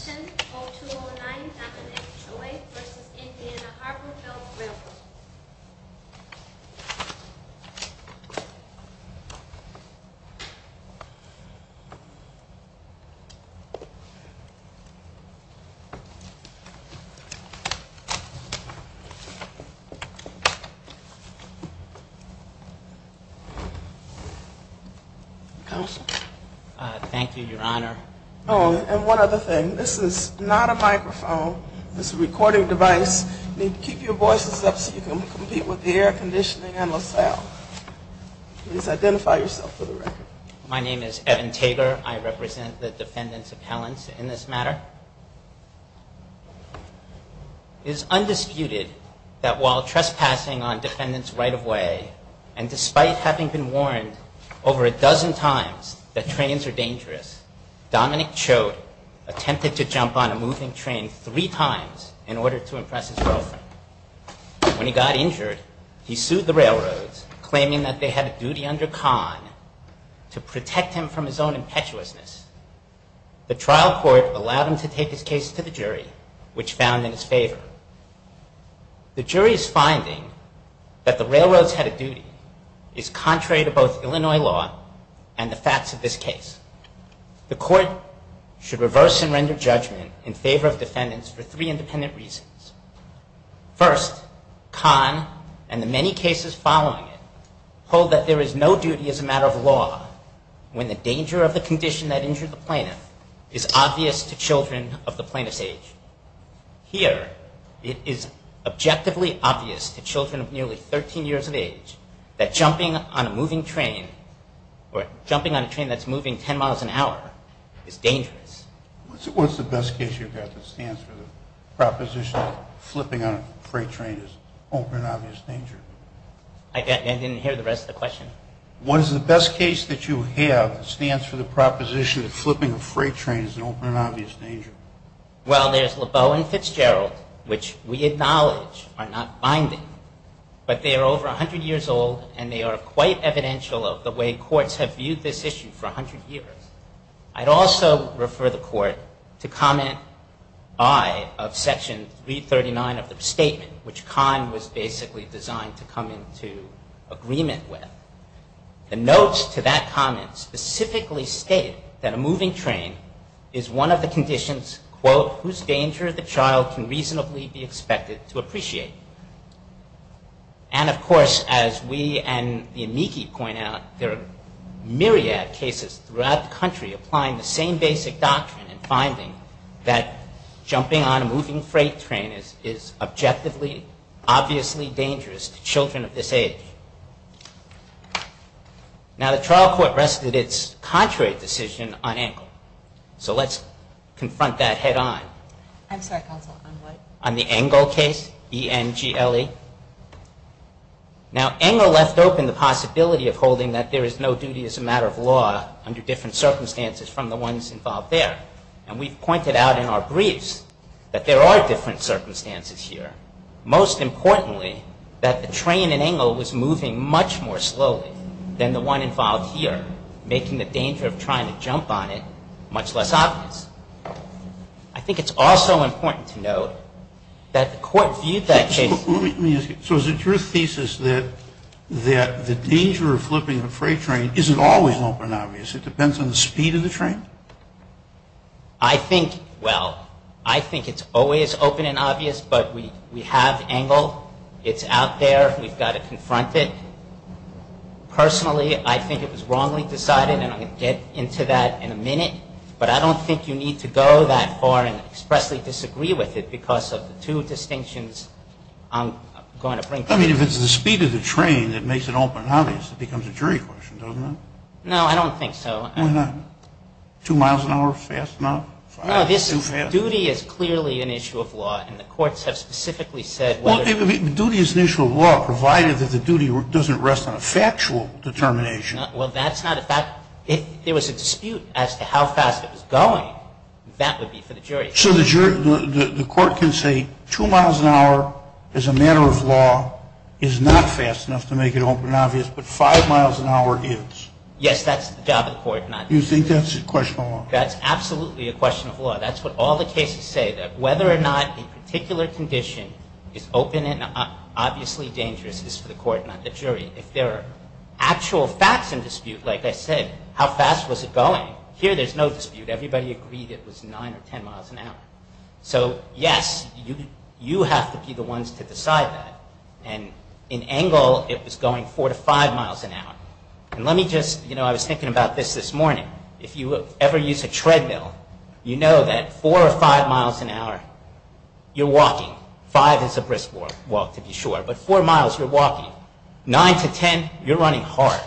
0209, Dominick Choate v. Indiana Harbor Belt Railroad. Counsel? Thank you, Your Honor. Oh, and one other thing. This is not a microphone. This is a recording device. You need to keep your voices up so you can compete with the air conditioning on LaSalle. Please identify yourself for the record. My name is Evan Tager. I represent the defendants' appellants in this matter. It is undisputed that while trespassing on defendants' right-of-way and despite having been warned over a dozen times that trains are dangerous, Dominick Choate attempted to jump on a moving train three times in order to impress his girlfriend. When he got injured, he sued the railroads, claiming that they had a duty under con to protect him from his own impetuousness. The trial court allowed him to take his case to the jury, which found in his favor. The jury's finding that the railroads had a duty is contrary to both Illinois law and the facts of this case. The court should reverse and render judgment in favor of defendants for three independent reasons. First, con and the many cases following it hold that there is no duty as a matter of law when the danger of the condition that injured the plaintiff is obvious to children of the plaintiff's age. Here, it is objectively obvious to children of nearly 13 years of age that jumping on a moving train or jumping on a train that's moving 10 miles an hour is dangerous. What's the best case you've got that stands for the proposition that flipping a freight train is an open and obvious danger? I didn't hear the rest of the question. What is the best case that you have that stands for the proposition that flipping a freight train is an open and obvious danger? Well, there's Lebeau and Fitzgerald, which we acknowledge are not binding, but they are over 100 years old and they are quite evidential of the way courts have viewed this issue for 100 years. I'd also refer the court to comment I of section 339 of the statement, which con was basically designed to come into agreement with. The notes to that comment specifically state that a moving train is one of the conditions, quote, whose danger the child can reasonably be expected to appreciate. And, of course, as we and the amici point out, there are myriad cases throughout the country applying the same basic doctrine and finding that jumping on a moving freight train is objectively obviously dangerous to children of this age. Now, the trial court rested its contrary decision on Engle. So let's confront that head on. I'm sorry, counsel, on what? On the Engle case, E-N-G-L-E. Now, Engle left open the possibility of holding that there is no duty as a matter of law under different circumstances from the ones involved there. And we've pointed out in our briefs that there are different circumstances here. Most importantly, that the train in Engle was moving much more slowly than the one involved here, making the danger of trying to jump on it much less obvious. I think it's also important to note that the court viewed that case. Let me ask you, so is it your thesis that the danger of flipping a freight train isn't always open and obvious? It depends on the speed of the train? I think, well, I think it's always open and obvious, but we have Engle. It's out there. We've got to confront it. Personally, I think it was wrongly decided, and I'm going to get into that in a minute. But I don't think you need to go that far and expressly disagree with it because of the two distinctions I'm going to bring to you. I mean, if it's the speed of the train that makes it open and obvious, it becomes a jury question, doesn't it? No, I don't think so. Why not? Two miles an hour, fast enough? No, this duty is clearly an issue of law, and the courts have specifically said whether Duty is an issue of law, provided that the duty doesn't rest on a factual determination. Well, that's not a fact. If there was a dispute as to how fast it was going, that would be for the jury. So the court can say two miles an hour is a matter of law, is not fast enough to make it open and obvious, but five miles an hour is? Yes, that's the job of the court, not the jury. You think that's a question of law? That's absolutely a question of law. That's what all the cases say, that whether or not a particular condition is open and obviously dangerous is for the court, not the jury. If there are actual facts in dispute, like I said, how fast was it going? Here, there's no dispute. Everybody agreed it was nine or ten miles an hour. So, yes, you have to be the ones to decide that. And in Engle, it was going four to five miles an hour. And let me just, you know, I was thinking about this this morning. If you ever use a treadmill, you know that four or five miles an hour, you're walking. Five is a brisk walk, to be sure. But four miles, you're walking. Nine to ten, you're running hard.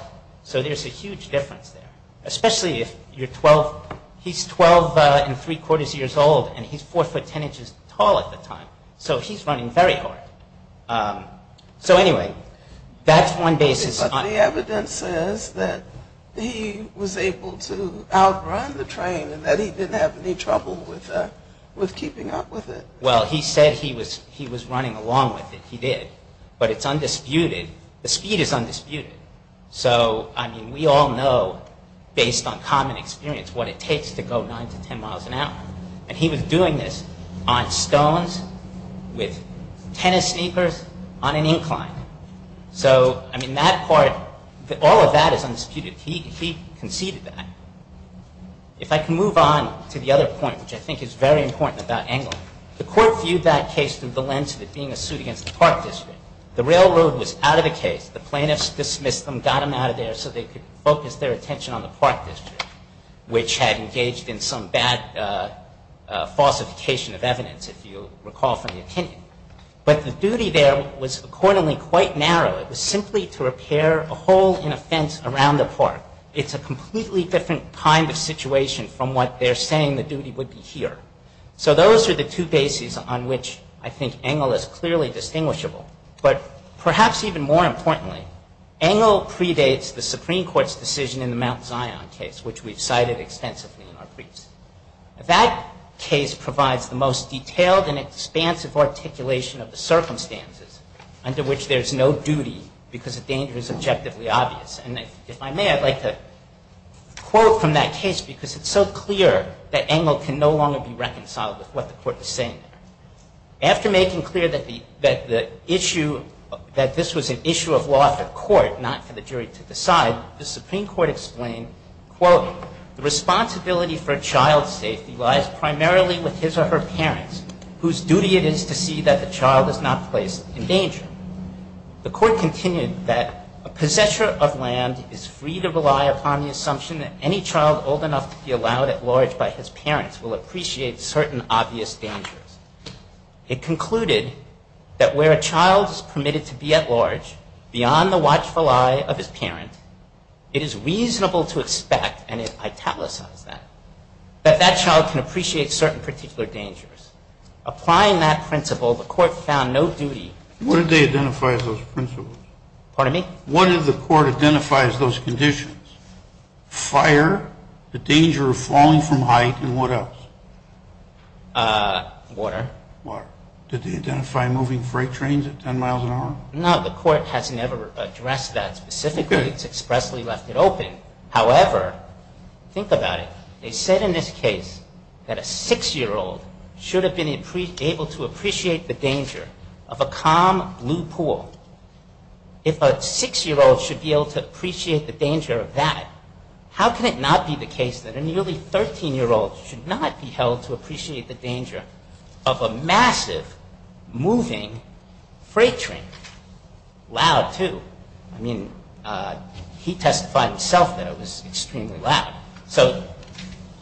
So there's a huge difference there, especially if you're 12. He's 12 and three quarters years old, and he's four foot ten inches tall at the time. So he's running very hard. So, anyway, that's one basis. But the evidence says that he was able to outrun the train and that he didn't have any trouble with keeping up with it. Well, he said he was running along with it. He did. But it's undisputed. The speed is undisputed. So, I mean, we all know, based on common experience, what it takes to go nine to ten miles an hour. And he was doing this on stones, with tennis sneakers, on an incline. So, I mean, that part, all of that is undisputed. He conceded that. If I can move on to the other point, which I think is very important about Engler. The court viewed that case through the lens of it being a suit against the Park District. The railroad was out of the case. The plaintiffs dismissed them, got them out of there, so they could focus their attention on the Park District, which had engaged in some bad falsification of evidence, if you recall from the opinion. But the duty there was, accordingly, quite narrow. It was simply to repair a hole in a fence around the park. It's a completely different kind of situation from what they're saying the duty would be here. So those are the two bases on which I think Engler is clearly distinguishable. But perhaps even more importantly, Engler predates the Supreme Court's decision in the Mount Zion case, which we've cited extensively in our briefs. That case provides the most detailed and expansive articulation of the circumstances under which there's no duty, because the danger is objectively obvious. And if I may, I'd like to quote from that case, because it's so clear that Engler can no longer be reconciled with what the court is saying. After making clear that this was an issue of law for the court, not for the jury to decide, the Supreme Court explained, quote, the responsibility for a child's safety lies primarily with his or her parents, whose duty it is to see that the child is not placed in danger. The court continued that a possessor of land is free to rely upon the assumption that any child old enough to be allowed at large by his parents will appreciate certain obvious dangers. It concluded that where a child is permitted to be at large, beyond the watchful eye of his parent, it is reasonable to expect, and it italicized that, that that child can appreciate certain particular dangers. Applying that principle, the court found no duty. What did they identify as those principles? Pardon me? What did the court identify as those conditions? Fire, the danger of falling from height, and what else? Water. Did they identify moving freight trains at 10 miles an hour? No, the court has never addressed that specifically. It's expressly left it open. However, think about it. They said in this case that a six-year-old should have been able to appreciate the danger of a calm blue pool. If a six-year-old should be able to appreciate the danger of that, how can it not be the case that a nearly 13-year-old should not be held to appreciate the danger of a massive moving freight train? Loud, too. I mean, he testified himself that it was extremely loud. So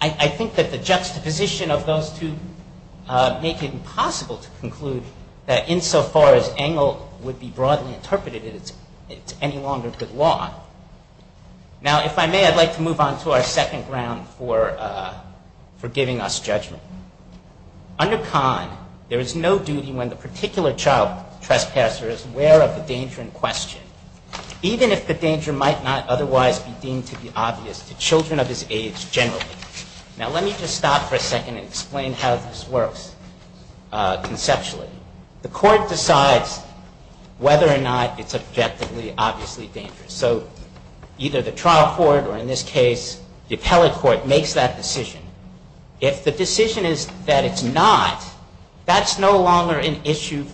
I think that the juxtaposition of those two make it impossible to conclude that insofar as Engle would be broadly interpreted, it's any longer good law. Now, if I may, I'd like to move on to our second round for giving us judgment. Under Kahn, there is no duty when the particular child trespasser is aware of the danger in question, even if the danger might not otherwise be deemed to be obvious to children of his age generally. Now, let me just stop for a second and explain how this works conceptually. The court decides whether or not it's objectively obviously dangerous. So either the trial court or, in this case, the appellate court makes that decision. If the decision is that it's not, that's no longer an issue.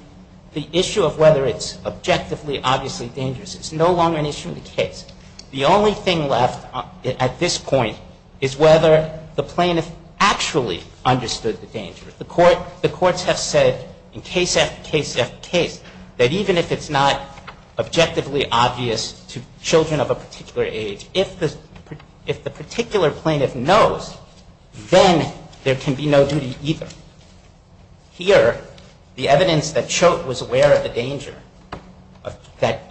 The issue of whether it's objectively obviously dangerous is no longer an issue in the case. The only thing left at this point is whether the plaintiff actually understood the danger. The courts have said in case after case after case that even if it's not objectively obvious to children of a particular age, if the particular plaintiff knows, then there can be no duty either. Here, the evidence that Choate was aware of the danger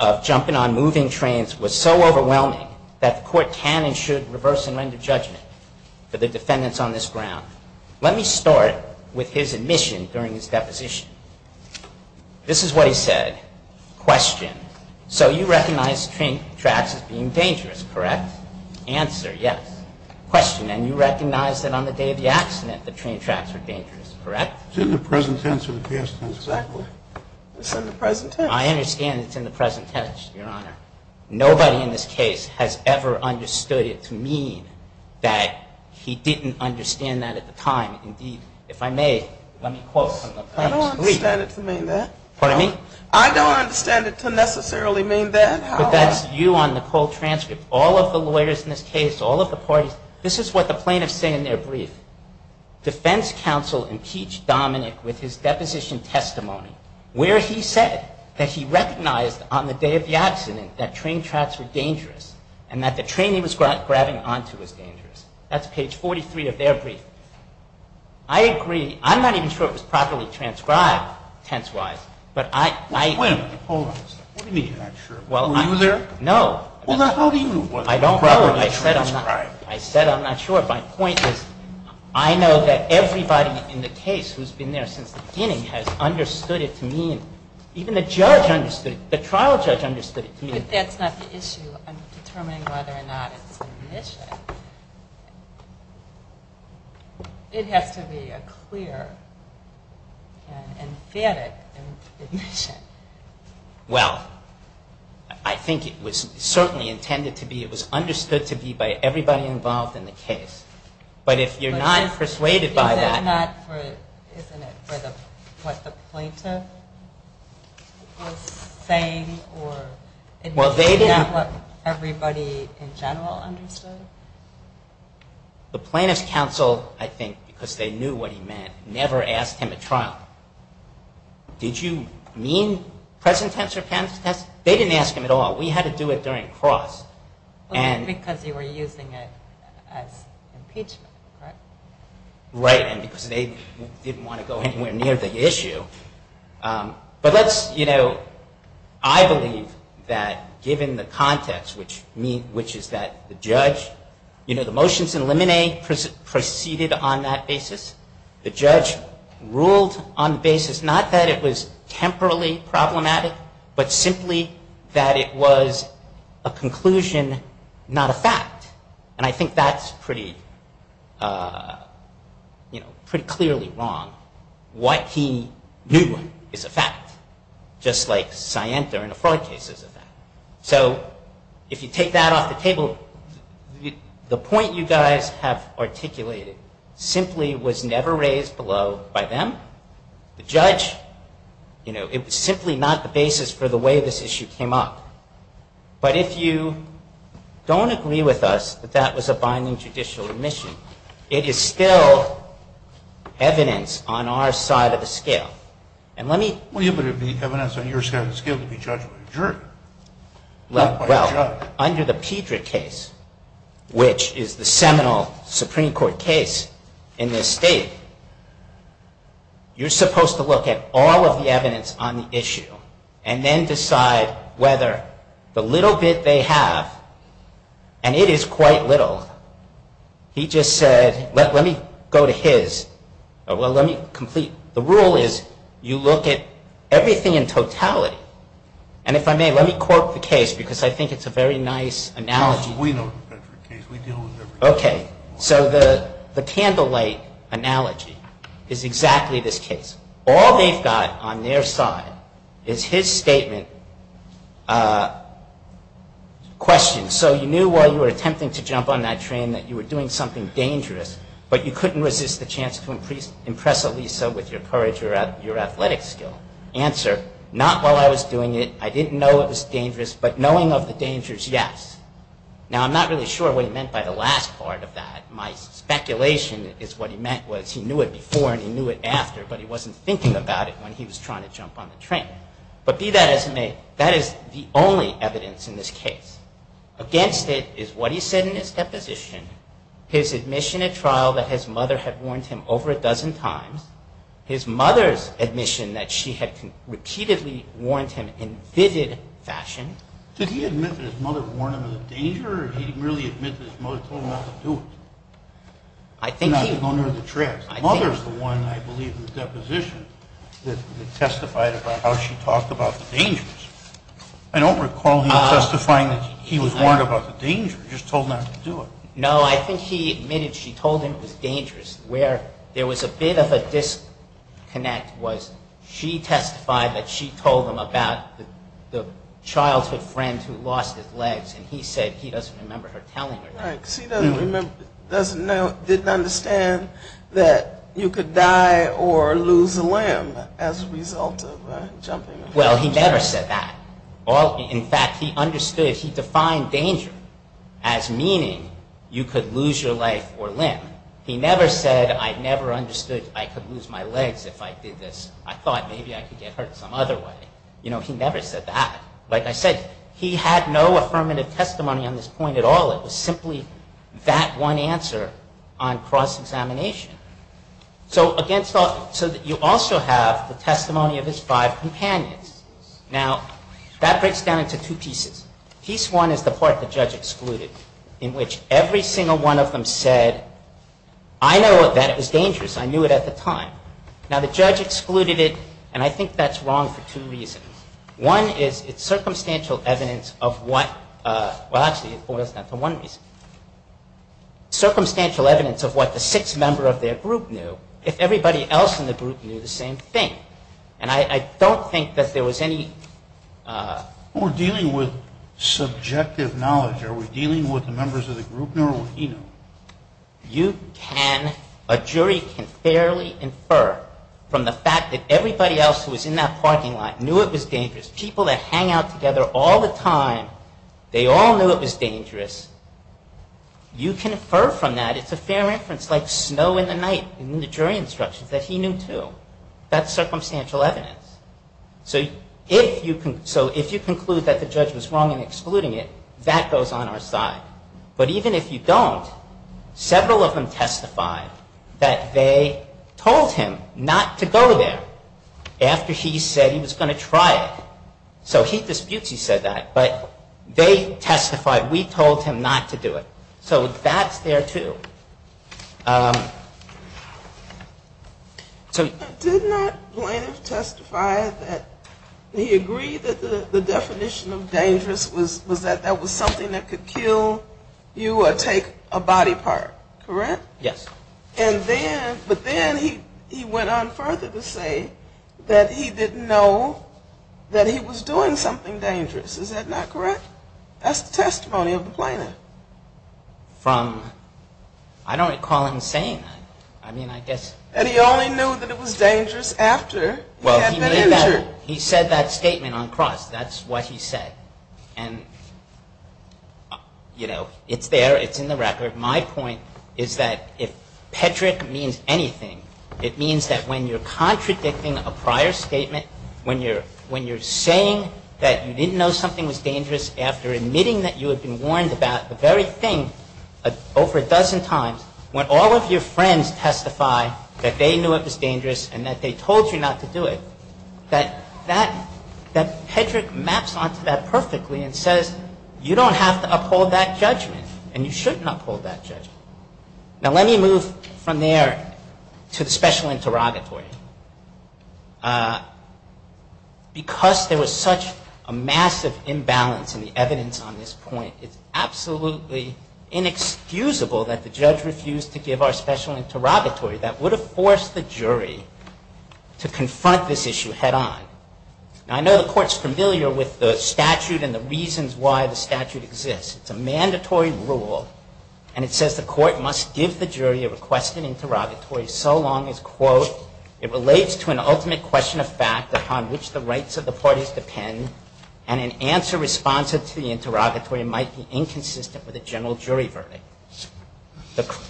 of jumping on moving trains was so overwhelming that the court can and should reverse and render judgment for the defendants on this ground. Let me start with his admission during his deposition. This is what he said. Question. So you recognize train tracks as being dangerous, correct? Answer, yes. Question. And you recognize that on the day of the accident, the train tracks were dangerous, correct? It's in the present tense or the past tense. Exactly. It's in the present tense. I understand it's in the present tense, Your Honor. Nobody in this case has ever understood it to mean that he didn't understand that at the time. Indeed, if I may, let me quote from the plaintiff's plea. I don't understand it to mean that. Pardon me? I don't understand it to necessarily mean that. But that's you on the cold transcript. All of the lawyers in this case, all of the parties, this is what the plaintiffs say in their brief. Defense counsel impeached Dominic with his deposition testimony where he said that he recognized on the day of the accident that train tracks were dangerous and that the train he was grabbing onto was dangerous. That's page 43 of their brief. I agree. I'm not even sure it was properly transcribed tense-wise. Wait a minute. Hold on a second. What do you mean you're not sure? Were you there? No. How do you know it was properly transcribed? I don't know. I said I'm not sure. My point is I know that everybody in the case who's been there since the beginning has understood it to mean, even the judge understood it, the trial judge understood it to mean. But that's not the issue. I'm determining whether or not it's admission. It has to be a clear and emphatic admission. Well, I think it was certainly intended to be, it was understood to be by everybody involved in the case. But if you're not persuaded by that. Isn't that not for what the plaintiff was saying? Isn't that what everybody in general understood? The plaintiff's counsel, I think, because they knew what he meant, never asked him at trial. Did you mean present tense or past tense? They didn't ask him at all. We had to do it during cross. Because you were using it as impeachment, correct? Right. And because they didn't want to go anywhere near the issue. But let's, you know, I believe that given the context, which is that the judge, you know, the motions in limine preceded on that basis. The judge ruled on the basis not that it was temporally problematic, but simply that it was a conclusion, not a fact. And I think that's pretty, you know, pretty clearly wrong. What he knew is a fact. Just like Sienta in a fraud case is a fact. So if you take that off the table, the point you guys have articulated simply was never raised below by them. The judge, you know, it was simply not the basis for the way this issue came up. But if you don't agree with us that that was a binding judicial admission, it is still evidence on our side of the scale. And let me. Well, but it would be evidence on your side of the scale to be judged by the judge. Well, under the Pedra case, which is the seminal Supreme Court case in this state, you're supposed to look at all of the evidence on the issue and then decide whether the little bit they have, and it is quite little. He just said, let me go to his. Well, let me complete. The rule is you look at everything in totality. And if I may, let me quote the case because I think it's a very nice analogy. We know the Pedra case. We deal with everything. Okay. So the candlelight analogy is exactly this case. All they've got on their side is his statement, questions. And so you knew while you were attempting to jump on that train that you were doing something dangerous, but you couldn't resist the chance to impress Elisa with your courage or your athletic skill. Answer, not while I was doing it, I didn't know it was dangerous, but knowing of the dangers, yes. Now, I'm not really sure what he meant by the last part of that. My speculation is what he meant was he knew it before and he knew it after, but he wasn't thinking about it when he was trying to jump on the train. But be that as it may, that is the only evidence in this case. Against it is what he said in his deposition, his admission at trial that his mother had warned him over a dozen times, his mother's admission that she had repeatedly warned him in vivid fashion. Did he admit that his mother warned him of the danger or did he merely admit that his mother told him not to do it? I think he... Not to go near the tracks. His mother is the one, I believe, in the deposition that testified about how she talked about the dangers. I don't recall him testifying that he was warned about the danger, just told not to do it. No, I think he admitted she told him it was dangerous. Where there was a bit of a disconnect was she testified that she told him about the childhood friend who lost his legs, and he said he doesn't remember her telling him. Right, because he doesn't remember, doesn't know, didn't understand that you could die or lose a limb as a result of jumping. Well, he never said that. In fact, he understood, he defined danger as meaning you could lose your life or limb. He never said I never understood I could lose my legs if I did this. I thought maybe I could get hurt some other way. You know, he never said that. Like I said, he had no affirmative testimony on this point at all. It was simply that one answer on cross-examination. So again, you also have the testimony of his five companions. Now, that breaks down into two pieces. Piece one is the part the judge excluded, in which every single one of them said, I know that it was dangerous. I knew it at the time. Now, the judge excluded it, and I think that's wrong for two reasons. One is it's circumstantial evidence of what, well, actually, it boils down to one reason. Circumstantial evidence of what the sixth member of their group knew, if everybody else in the group knew the same thing. And I don't think that there was any... We're dealing with subjective knowledge. Are we dealing with the members of the group, or what he knew? You can, a jury can fairly infer from the fact that everybody else who was in that parking lot knew it was dangerous. People that hang out together all the time, they all knew it was dangerous. You can infer from that, it's a fair inference, like snow in the night in the jury instructions, that he knew too. That's circumstantial evidence. So if you conclude that the judge was wrong in excluding it, that goes on our side. But even if you don't, several of them testified that they told him not to go there after he said he was going to try it. So he disputes he said that, but they testified, we told him not to do it. So that's there too. So... Did not Blaynev testify that he agreed that the definition of dangerous was that that was something that could kill you or take a body part, correct? Yes. And then, but then he went on further to say that he didn't know that he was doing something dangerous. Is that not correct? That's the testimony of Blaynev. From, I don't recall him saying that. I mean, I guess... And he only knew that it was dangerous after he had been injured. He said that statement on cross, that's what he said. And, you know, it's there, it's in the record. My point is that if Pedrick means anything, it means that when you're contradicting a prior statement, when you're saying that you didn't know something was dangerous after admitting that you had been warned about the very thing over a dozen times, when all of your friends testify that they knew it was dangerous and that they told you not to do it, that Pedrick maps onto that perfectly and says, you don't have to uphold that judgment and you shouldn't uphold that judgment. Now, let me move from there to the special interrogatory. Because there was such a massive imbalance in the evidence on this point, it's absolutely inexcusable that the judge refused to give our special interrogatory. That would have forced the jury to confront this issue head on. Now, I know the court's familiar with the statute and the reasons why the statute exists. It's a mandatory rule and it says the court must give the jury a request in interrogatory so long as, quote, it relates to an ultimate question of fact upon which the rights of the parties depend and an answer responsive to the interrogatory might be inconsistent with a general jury verdict.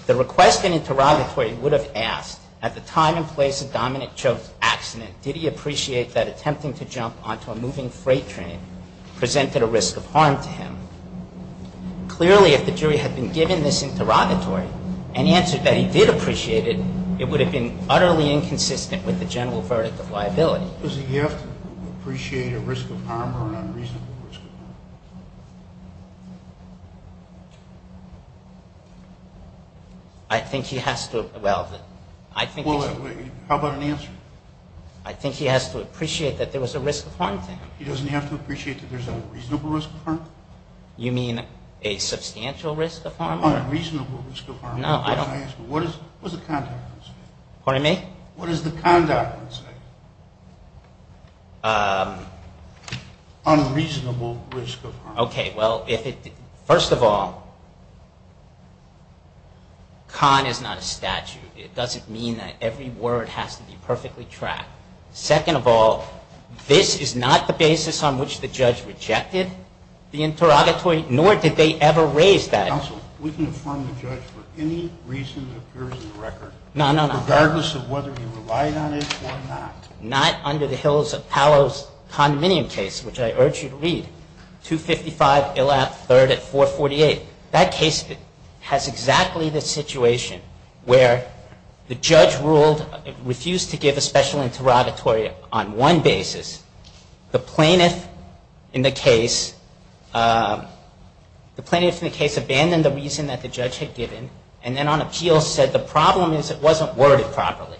The request in interrogatory would have asked, at the time and place of Dominic Cho's accident, did he appreciate that attempting to jump onto a moving freight train presented a risk of harm to him? Clearly, if the jury had been given this interrogatory and answered that he did appreciate it, it would have been utterly inconsistent with the general verdict of liability. Does he have to appreciate a risk of harm or an unreasonable risk of harm? I think he has to. Well, I think he has to. How about an answer? I think he has to appreciate that there was a risk of harm to him. He doesn't have to appreciate that there's a reasonable risk of harm? You mean a substantial risk of harm? An unreasonable risk of harm. No, I don't. What does the conduct say? Pardon me? What does the conduct say? Unreasonable risk of harm. Okay, well, first of all, con is not a statute. It doesn't mean that every word has to be perfectly tracked. Second of all, this is not the basis on which the judge rejected the interrogatory, nor did they ever raise that. Counsel, we can affirm the judge for any reason that appears in the record. No, no, no. Regardless of whether he relied on it or not. Not under the Hills of Palos condominium case, which I urge you to read, 255 Illap III at 448. That case has exactly the situation where the judge refused to give a special interrogatory on one basis. The plaintiff in the case abandoned the reason that the judge had given and then on appeal said the problem is it wasn't worded properly.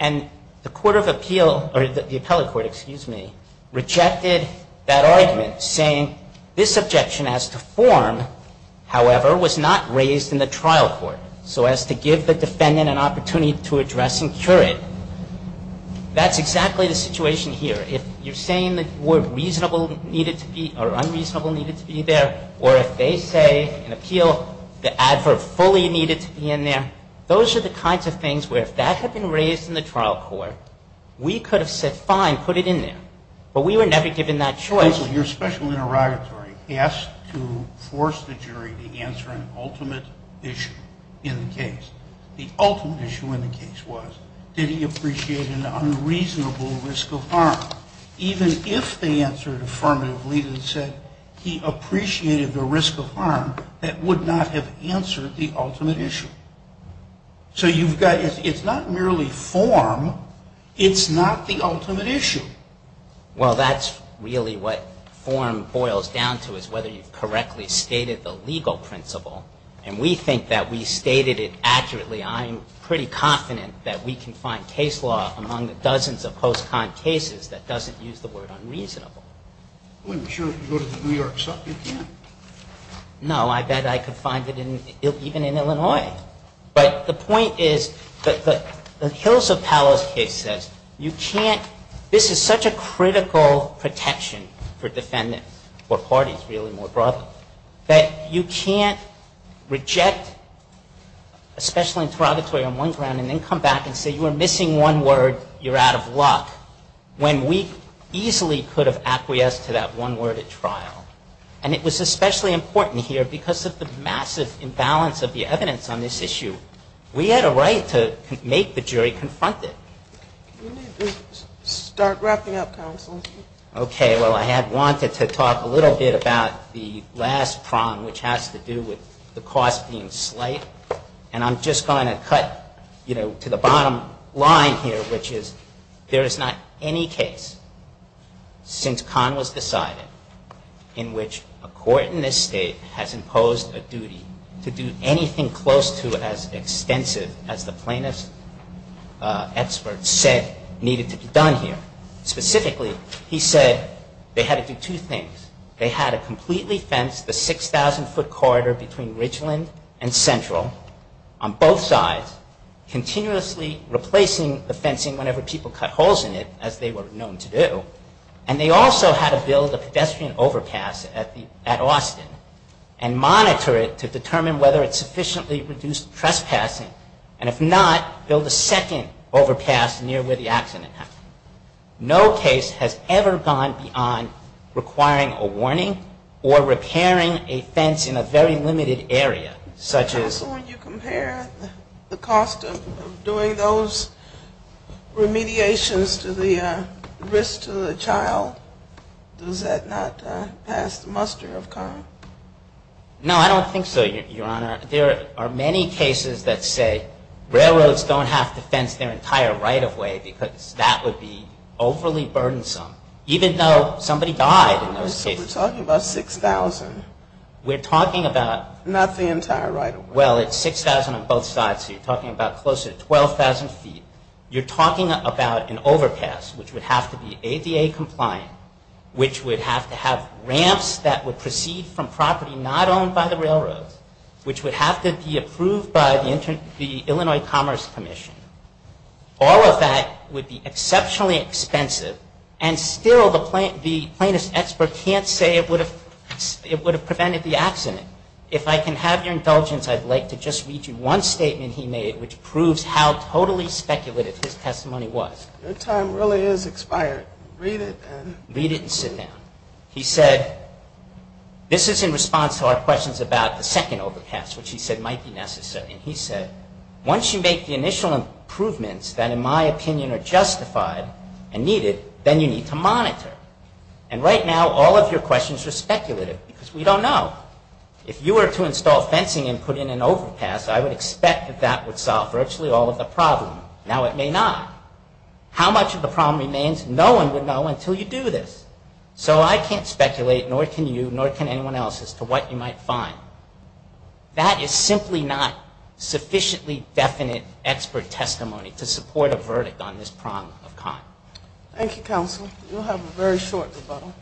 And the court of appeal, or the appellate court, excuse me, rejected that argument saying this objection has to form, however, was not raised in the trial court. So as to give the defendant an opportunity to address and cure it. That's exactly the situation here. If you're saying the word reasonable needed to be, or unreasonable needed to be there, or if they say in appeal the adverb fully needed to be in there, those are the kinds of things where if that had been raised in the trial court, we could have said fine, put it in there. But we were never given that choice. Counsel, your special interrogatory asked to force the jury to answer an ultimate issue in the case. The ultimate issue in the case was did he appreciate an unreasonable risk of harm? Even if they answered affirmatively and said he appreciated the risk of harm, that would not have answered the ultimate issue. So you've got, it's not merely form, it's not the ultimate issue. Well, that's really what form boils down to is whether you've correctly stated the legal principle. And we think that we stated it accurately. I'm pretty confident that we can find case law among the dozens of post-con cases that doesn't use the word unreasonable. Well, I'm sure if you go to the New York Sup you can. No, I bet I could find it even in Illinois. But the point is that the Hills of Palos case says you can't, this is such a critical protection for defendants or parties really more broadly, that you can't reject a special interrogatory on one ground and then come back and say you were missing one word, you're out of luck, when we easily could have acquiesced to that one word at trial. And it was especially important here because of the massive imbalance of the evidence on this issue. We had a right to make the jury confront it. Start wrapping up, counsel. Okay, well I had wanted to talk a little bit about the last prong which has to do with the cost being slight. And I'm just going to cut to the bottom line here which is there is not any case since Kahn was decided to do anything close to as extensive as the plaintiff's experts said needed to be done here. Specifically, he said they had to do two things. They had to completely fence the 6,000 foot corridor between Ridgeland and Central on both sides continuously replacing the fencing whenever people cut holes in it as they were known to do. And they also had to build a pedestrian overpass at Austin and monitor it to determine whether it sufficiently reduced trespassing and if not, build a second overpass near where the accident happened. No case has ever gone beyond requiring a warning or repairing a fence in a very limited area such as When you compare the cost of doing those remediations to the risk to the child, does that not pass the muster of Kahn? No, I don't think so, Your Honor. There are many cases that say railroads don't have to fence their entire right-of-way because that would be overly burdensome even though somebody died in those cases. We're talking about 6,000. We're talking about... Not the entire right-of-way. Well, it's 6,000 on both sides so you're talking about close to 12,000 feet. You're talking about an overpass which would have to be ADA compliant, which would have to have ramps that would proceed from property not owned by the railroads, which would have to be approved by the Illinois Commerce Commission. All of that would be exceptionally expensive and still the plaintiff's expert can't say it would have prevented the accident. If I can have your indulgence, I'd like to just read you one statement he made which proves how totally speculative his testimony was. Your time really is expired. Read it and... Read it and sit down. He said, this is in response to our questions about the second overpass, which he said might be necessary, and he said, once you make the initial improvements that in my opinion are justified and needed, then you need to monitor. And right now all of your questions are speculative because we don't know. If you were to install fencing and put in an overpass, I would expect that that would solve virtually all of the problems. Now it may not. How much of the problem remains, no one would know until you do this. So I can't speculate, nor can you, nor can anyone else as to what you might find. That is simply not sufficiently definite expert testimony to support a verdict on this problem of kind. Thank you, counsel. You'll have a very short rebuttal.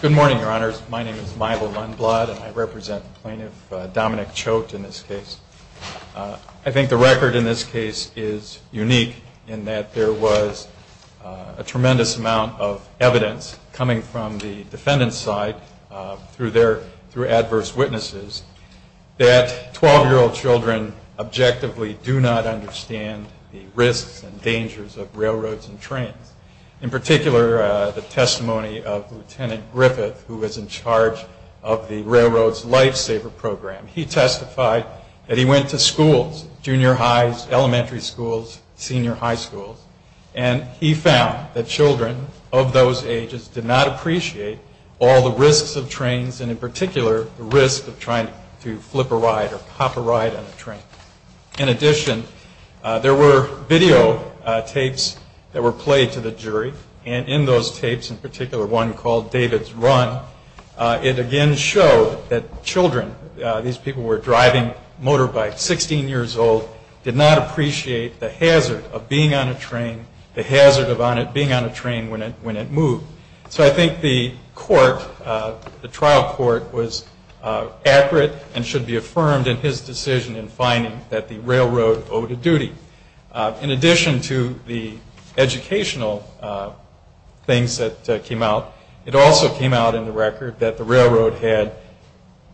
Good morning, Your Honors. My name is Michael Lundblad, and I represent Plaintiff Dominic Choate in this case. I think the record in this case is unique in that there was a tremendous amount of evidence coming from the defendant's side through adverse witnesses that 12-year-old children objectively do not understand the risks and dangers of railroads and trains. In particular, the testimony of Lieutenant Griffith, who was in charge of the Railroad's Lifesaver Program. He testified that he went to schools, junior highs, elementary schools, senior high schools, and he found that children of those ages did not appreciate all the risks of trains and, in particular, the risk of trying to flip a ride or pop a ride on a train. In addition, there were videotapes that were played to the jury, and in those tapes, in particular one called David's Run, it again showed that children, these people were driving motorbikes, 16 years old, did not appreciate the hazard of being on a train, the hazard of being on a train when it moved. So I think the trial court was accurate and should be affirmed in his decision in finding that the railroad owed a duty. In addition to the educational things that came out, it also came out in the record that the railroad had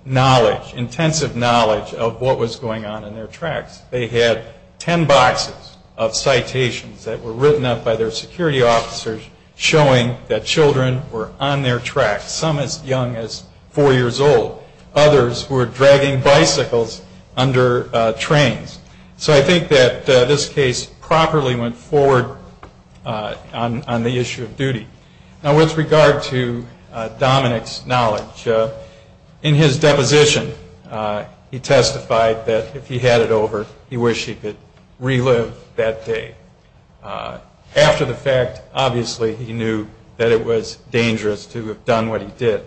knowledge, intensive knowledge of what was going on in their tracks. They had ten boxes of citations that were written up by their security officers showing that children were on their tracks, some as young as four years old. Others were dragging bicycles under trains. So I think that this case properly went forward on the issue of duty. Now, with regard to Dominic's knowledge, in his deposition, he testified that if he had it over, he wished he could relive that day. After the fact, obviously, he knew that it was dangerous to have done what he did.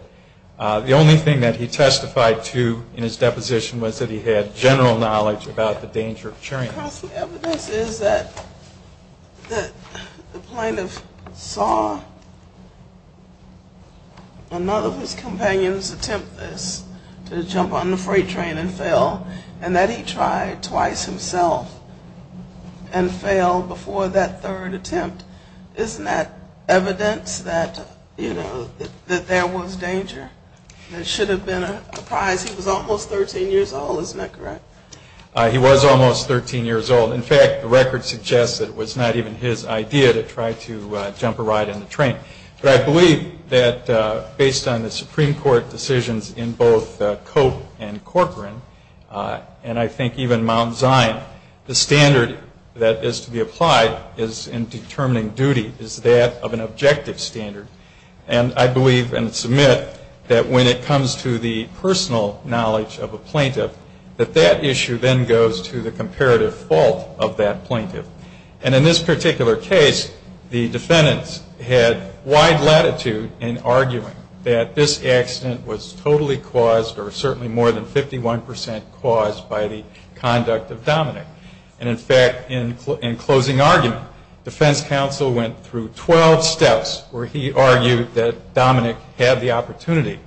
The only thing that he testified to in his deposition was that he had general knowledge about the danger of trains. The evidence is that the plaintiff saw another of his companions attempt this, to jump on the freight train and fail, and that he tried twice himself and failed before that third attempt. Isn't that evidence that there was danger? There should have been a prize. He was almost 13 years old. In fact, the record suggests that it was not even his idea to try to jump a ride in the train. But I believe that based on the Supreme Court decisions in both Cope and Corcoran, and I think even Mount Zion, the standard that is to be applied in determining duty is that of an objective standard. And I believe and submit that when it comes to the personal knowledge of a plaintiff, that that issue then goes to the comparative fault of that plaintiff. And in this particular case, the defendants had wide latitude in arguing that this accident was totally caused or certainly more than 51 percent caused by the conduct of Dominick. And, in fact, in closing argument, defense counsel went through 12 steps where he argued that Dominick had the opportunity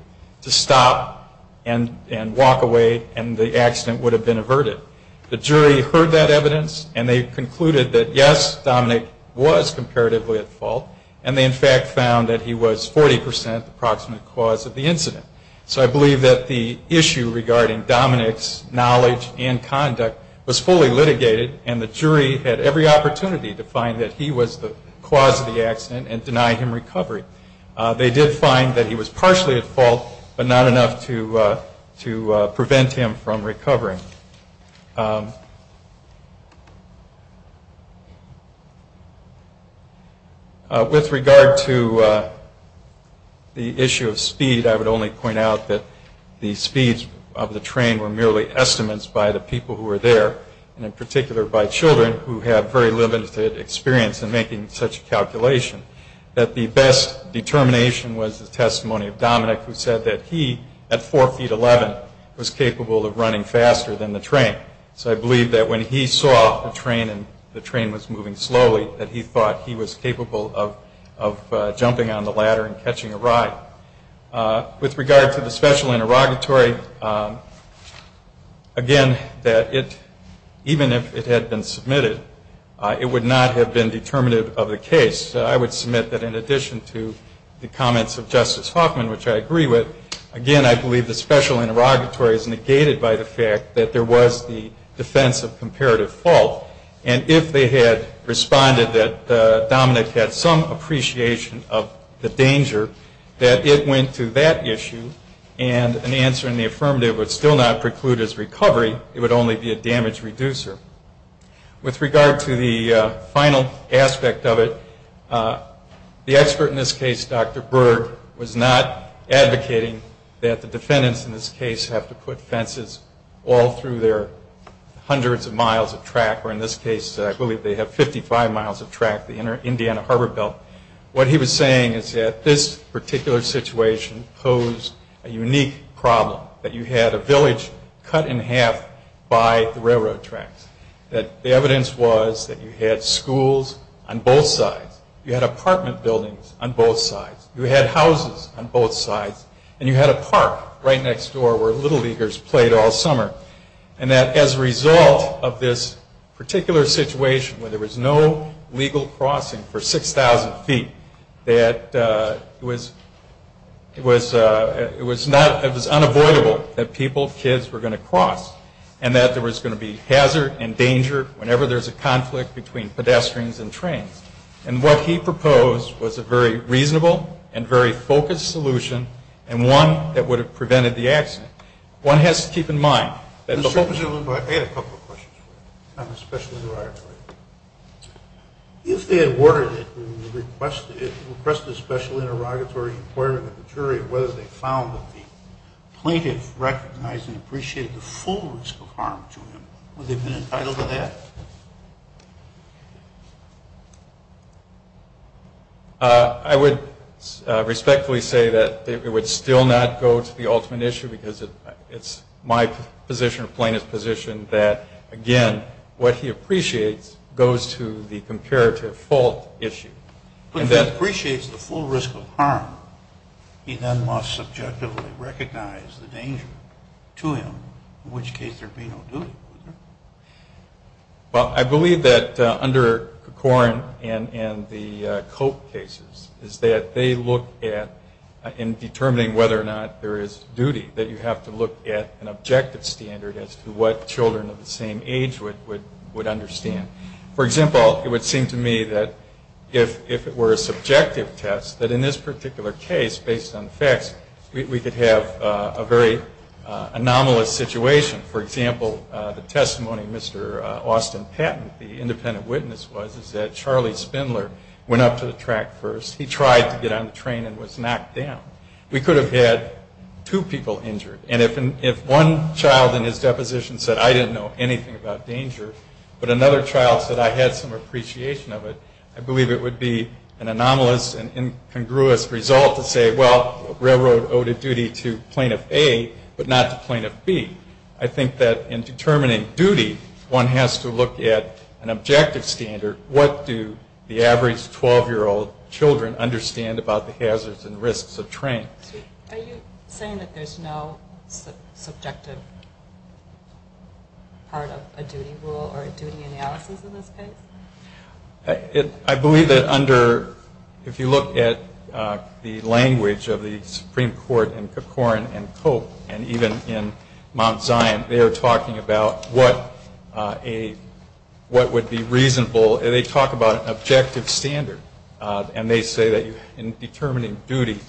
to stop and walk away and the accident would have been averted. The jury heard that evidence, and they concluded that, yes, Dominick was comparatively at fault, and they, in fact, found that he was 40 percent the approximate cause of the incident. So I believe that the issue regarding Dominick's knowledge and conduct was fully litigated, and the jury had every opportunity to find that he was the cause of the accident and deny him recovery. They did find that he was partially at fault, but not enough to prevent him from recovering. With regard to the issue of speed, I would only point out that the speeds of the train were merely estimates by the people who were there, and in particular by children who have very limited experience in making such calculations, that the best determination was the testimony of Dominick, who said that he, at 4 feet 11, was capable of running faster than the train. So I believe that when he saw the train and the train was moving slowly, that he thought he was capable of jumping on the ladder and catching a ride. With regard to the special interrogatory, again, that even if it had been submitted, it would not have been determinative of the case. I would submit that in addition to the comments of Justice Hoffman, which I agree with, again, I believe the special interrogatory is negated by the fact that there was the defense of comparative fault, and if they had responded that Dominick had some appreciation of the danger, that it went to that issue, and an answer in the affirmative would still not preclude his recovery. It would only be a damage reducer. With regard to the final aspect of it, the expert in this case, Dr. Berg, was not advocating that the defendants in this case have to put fences all through their hundreds of miles of track, or in this case I believe they have 55 miles of track, the Indiana Harbor Belt. What he was saying is that this particular situation posed a unique problem, that you had a village cut in half by the railroad tracks, that the evidence was that you had schools on both sides, you had apartment buildings on both sides, you had houses on both sides, and you had a park right next door where Little Leaguers played all summer, and that as a result of this particular situation where there was no legal crossing for 6,000 feet, that it was unavoidable that people, kids, were going to cross, and that there was going to be hazard and danger whenever there's a conflict between pedestrians and trains. And what he proposed was a very reasonable and very focused solution, and one that would have prevented the accident. One has to keep in mind that the whole... I had a couple of questions for you on the special environment. If they had ordered it and requested it, requested a special interrogatory inquiry of the jury whether they found that the plaintiff recognized and appreciated the full risk of harm to him, would they have been entitled to that? I would respectfully say that it would still not go to the ultimate issue because it's my position or plaintiff's position that, again, what he appreciates goes to the comparative fault issue. But if he appreciates the full risk of harm, he then must subjectively recognize the danger to him, in which case there'd be no duty. Well, I believe that under Corcoran and the Cope cases is that they look at, in determining whether or not there is duty, that you have to look at an objective standard as to what children of the same age would understand. For example, it would seem to me that if it were a subjective test, that in this particular case, based on facts, we could have a very anomalous situation. For example, the testimony of Mr. Austin Patton, the independent witness, was that Charlie Spindler went up to the track first. He tried to get on the train and was knocked down. We could have had two people injured. And if one child in his deposition said, I didn't know anything about danger, but another child said, I had some appreciation of it, I believe it would be an anomalous and incongruous result to say, well, railroad owed a duty to Plaintiff A but not to Plaintiff B. I think that in determining duty, one has to look at an objective standard. What do the average 12-year-old children understand about the hazards and risks of trains? Are you saying that there's no subjective part of a duty rule or a duty analysis in this case? I believe that under, if you look at the language of the Supreme Court in Kipcorin and Cope, and even in Mount Zion, they are talking about what would be reasonable. They talk about an objective standard, and they say that in determining duty,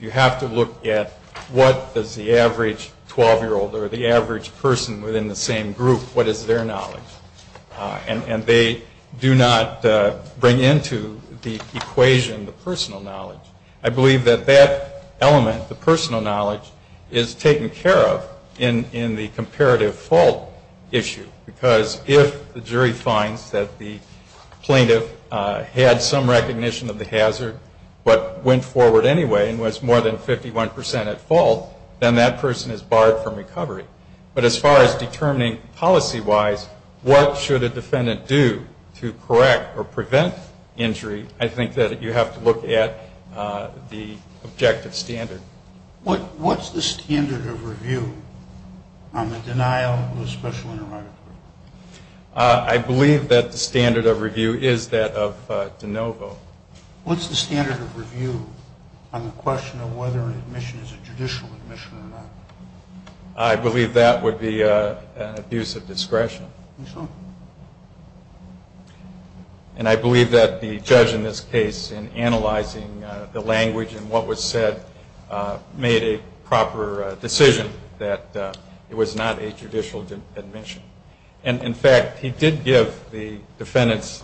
you have to look at what does the average 12-year-old or the average person within the same group, what is their knowledge? And they do not bring into the equation the personal knowledge. I believe that that element, the personal knowledge, is taken care of in the comparative fault issue, because if the jury finds that the plaintiff had some recognition of the hazard but went forward anyway and was more than 51 percent at fault, then that person is barred from recovery. But as far as determining policy-wise what should a defendant do to correct or prevent injury, I think that you have to look at the objective standard. What's the standard of review on the denial of a special interrogatory? I believe that the standard of review is that of de novo. What's the standard of review on the question of whether an admission is a judicial admission or not? And I believe that the judge in this case in analyzing the language and what was said made a proper decision that it was not a judicial admission. And, in fact, he did give the defendants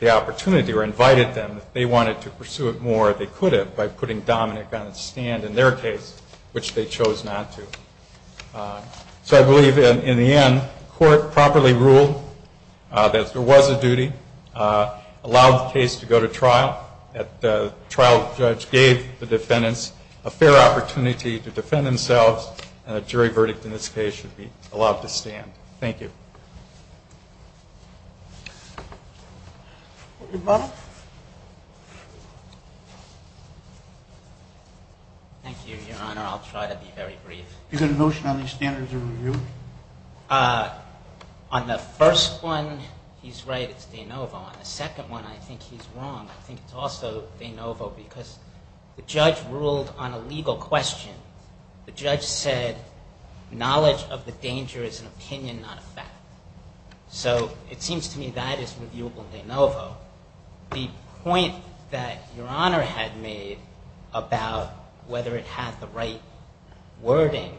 the opportunity or invited them if they wanted to pursue it more, they could have, by putting Dominick on a stand in their case, which they chose not to. So I believe, in the end, court properly ruled that there was a duty, allowed the case to go to trial, that the trial judge gave the defendants a fair opportunity to defend themselves, and a jury verdict in this case should be allowed to stand. Thank you. Your Honor. Thank you, Your Honor. I'll try to be very brief. Do you have a notion on the standards of review? On the first one, he's right, it's de novo. On the second one, I think he's wrong. I think it's also de novo because the judge ruled on a legal question. The judge said knowledge of the danger is an opinion, not a fact. So it seems to me that is reviewable de novo. The point that Your Honor had made about whether it had the right wording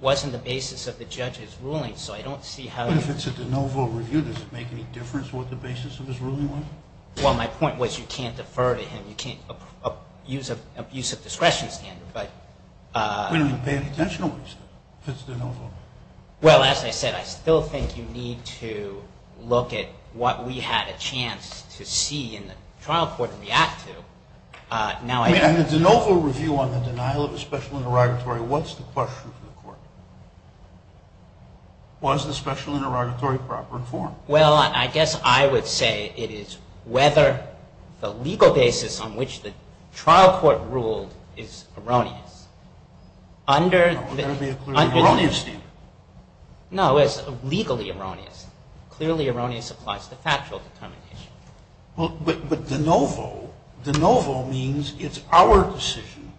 wasn't the basis of the judge's ruling. So I don't see how you can... But if it's a de novo review, does it make any difference what the basis of his ruling was? Well, my point was you can't defer to him. You can't use a discretion standard, but... We didn't pay any attention to what he said. It's de novo. Well, as I said, I still think you need to look at what we had a chance to see in the trial court and react to. In the de novo review on the denial of a special interrogatory, what's the question for the court? Was the special interrogatory proper in form? Well, I guess I would say it is whether the legal basis on which the trial court ruled is erroneous. No, there would be a clearly erroneous standard. No, it's legally erroneous. Clearly erroneous applies to factual determination. But de novo means it's our decision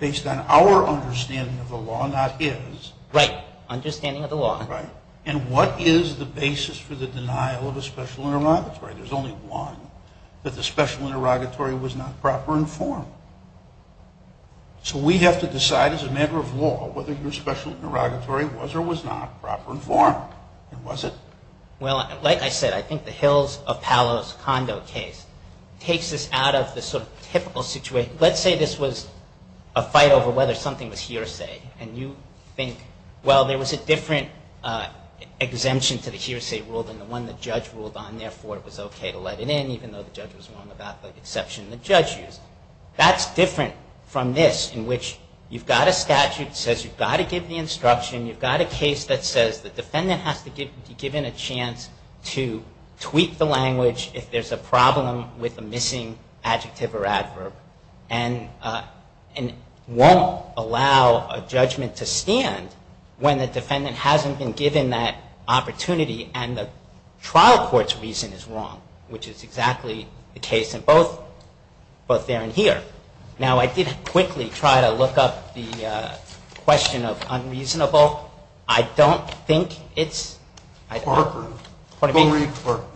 based on our understanding of the law, not his. Right, understanding of the law. Right. And what is the basis for the denial of a special interrogatory? There's only one, that the special interrogatory was not proper in form. So we have to decide as a matter of law whether your special interrogatory was or was not proper in form. Was it? Well, like I said, I think the Hills of Palos Condo case takes us out of the sort of typical situation. Let's say this was a fight over whether something was hearsay, and you think, well, there was a different exemption to the hearsay rule than the one the judge ruled on, therefore it was okay to let it in even though the judge was wrong about the exception the judge used. That's different from this in which you've got a statute that says you've got to give the instruction, you've got a case that says the defendant has to be given a chance to tweak the language if there's a problem with a missing adjective or adverb, and won't allow a judgment to stand when the defendant hasn't been given that opportunity and the trial court's reason is wrong, which is exactly the case in both there and here. Now, I did quickly try to look up the question of unreasonable. I don't think it's... Corcoran. Go read Corcoran.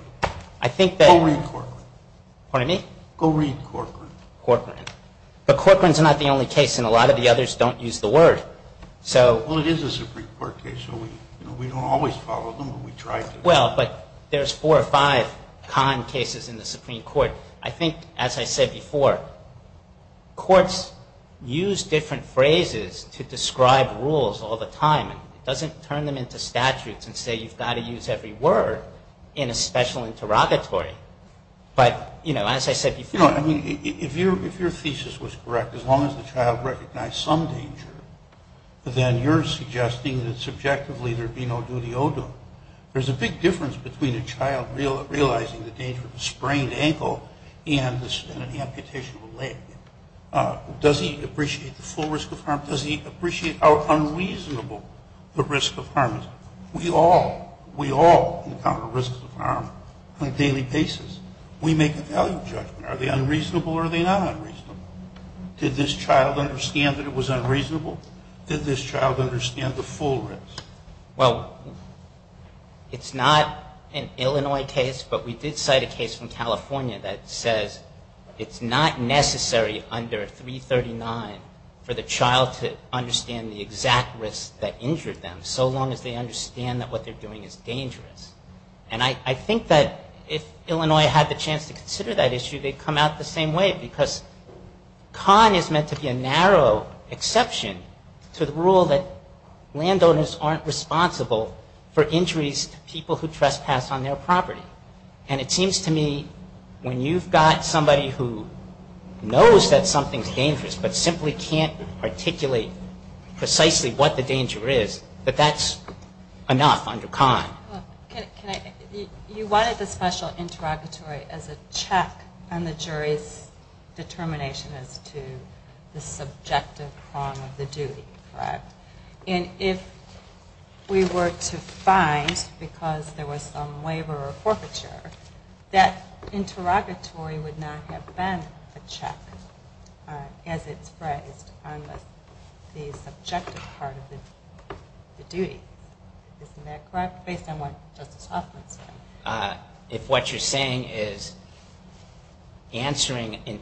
I think that... Go read Corcoran. Pardon me? Go read Corcoran. Corcoran. But Corcoran's not the only case and a lot of the others don't use the word. So... Well, it is a Supreme Court case, so we don't always follow them, but we try to. Well, but there's four or five con cases in the Supreme Court. I think, as I said before, courts use different phrases to describe rules all the time. It doesn't turn them into statutes and say you've got to use every word in a special interrogatory. But, you know, as I said before... You know, I mean, if your thesis was correct, as long as the child recognized some danger, then you're suggesting that subjectively there be no duty odor. There's a big difference between a child realizing the danger of a sprained ankle and an amputation of a leg. Does he appreciate the full risk of harm? Does he appreciate how unreasonable the risk of harm is? We all encounter risks of harm on a daily basis. We make a value judgment. Are they unreasonable or are they not unreasonable? Did this child understand that it was unreasonable? Did this child understand the full risk? Well, it's not an Illinois case, but we did cite a case from California that says it's not necessary under 339 for the child to understand the exact risk that injured them, so long as they understand that what they're doing is dangerous. And I think that if Illinois had the chance to consider that issue, they'd come out the same way, because Kahn is meant to be a narrow exception to the rule that landowners aren't responsible for injuries to people who trespass on their property. And it seems to me when you've got somebody who knows that something's dangerous but simply can't articulate precisely what the danger is, that that's enough under Kahn. You wanted the special interrogatory as a check on the jury's determination as to the subjective harm of the duty, correct? And if we were to find, because there was some waiver or forfeiture, that interrogatory would not have been a check as it's phrased on the subjective part of the duty. Isn't that correct, based on what Justice Hoffman said? If what you're saying is answering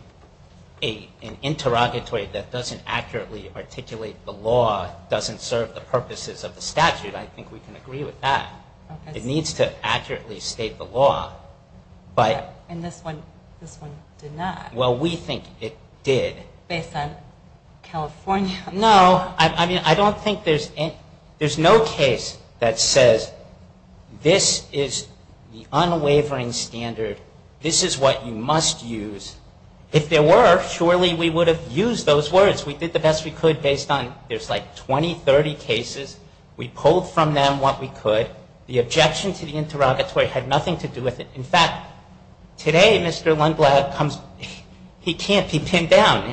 an interrogatory that doesn't accurately articulate the law doesn't serve the purposes of the statute, I think we can agree with that. It needs to accurately state the law. And this one did not. Well, we think it did. Based on California. No. I don't think there's no case that says this is the unwavering standard. This is what you must use. If there were, surely we would have used those words. We did the best we could based on, there's like 20, 30 cases. We pulled from them what we could. The objection to the interrogatory had nothing to do with it. In fact, today Mr. Lindblad comes, he can't be pinned down.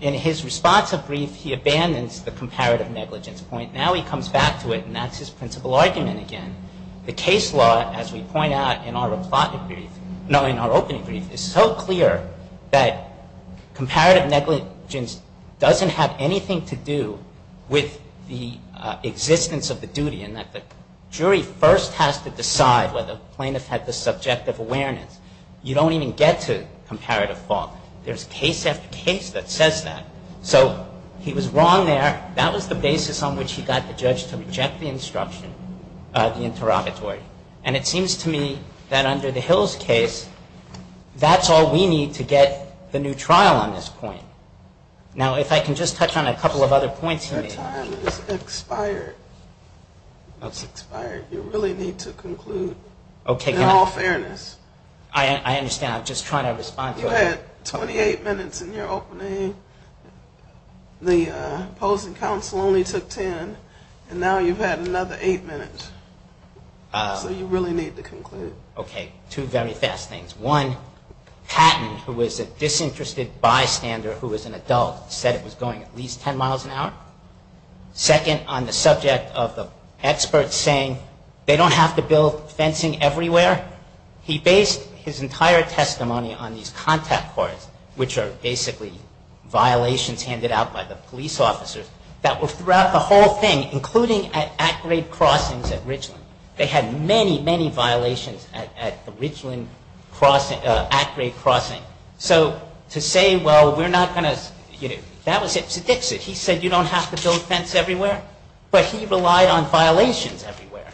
In his response of grief, he abandons the comparative negligence point. Now he comes back to it, and that's his principal argument again. The case law, as we point out in our opening brief, is so clear that comparative negligence doesn't have anything to do with the existence of the duty in that the jury first has to decide whether the plaintiff had the subjective awareness. You don't even get to comparative fault. There's case after case that says that. So he was wrong there. That was the basis on which he got the judge to reject the instruction, the interrogatory. And it seems to me that under the Hills case, that's all we need to get the new trial on this point. Now if I can just touch on a couple of other points he made. Your time has expired. It's expired. You really need to conclude in all fairness. I understand. I'm just trying to respond to it. You had 28 minutes in your opening. The opposing counsel only took 10, and now you've had another 8 minutes. So you really need to conclude. Okay. Two very fast things. One, Patton, who was a disinterested bystander who was an adult, said it was going at least 10 miles an hour. Second, on the subject of the experts saying they don't have to build fencing everywhere, he based his entire testimony on these contact cards, which are basically violations handed out by the police officers, that were throughout the whole thing, including at at-grade crossings at Ridgeland. They had many, many violations at the Ridgeland at-grade crossing. So to say, well, we're not going to, you know, that was hipster dixit. He said you don't have to build fence everywhere, but he relied on violations everywhere.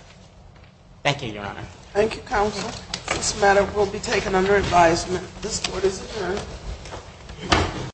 Thank you, Your Honor. Thank you, counsel. This matter will be taken under advisement. This court is adjourned.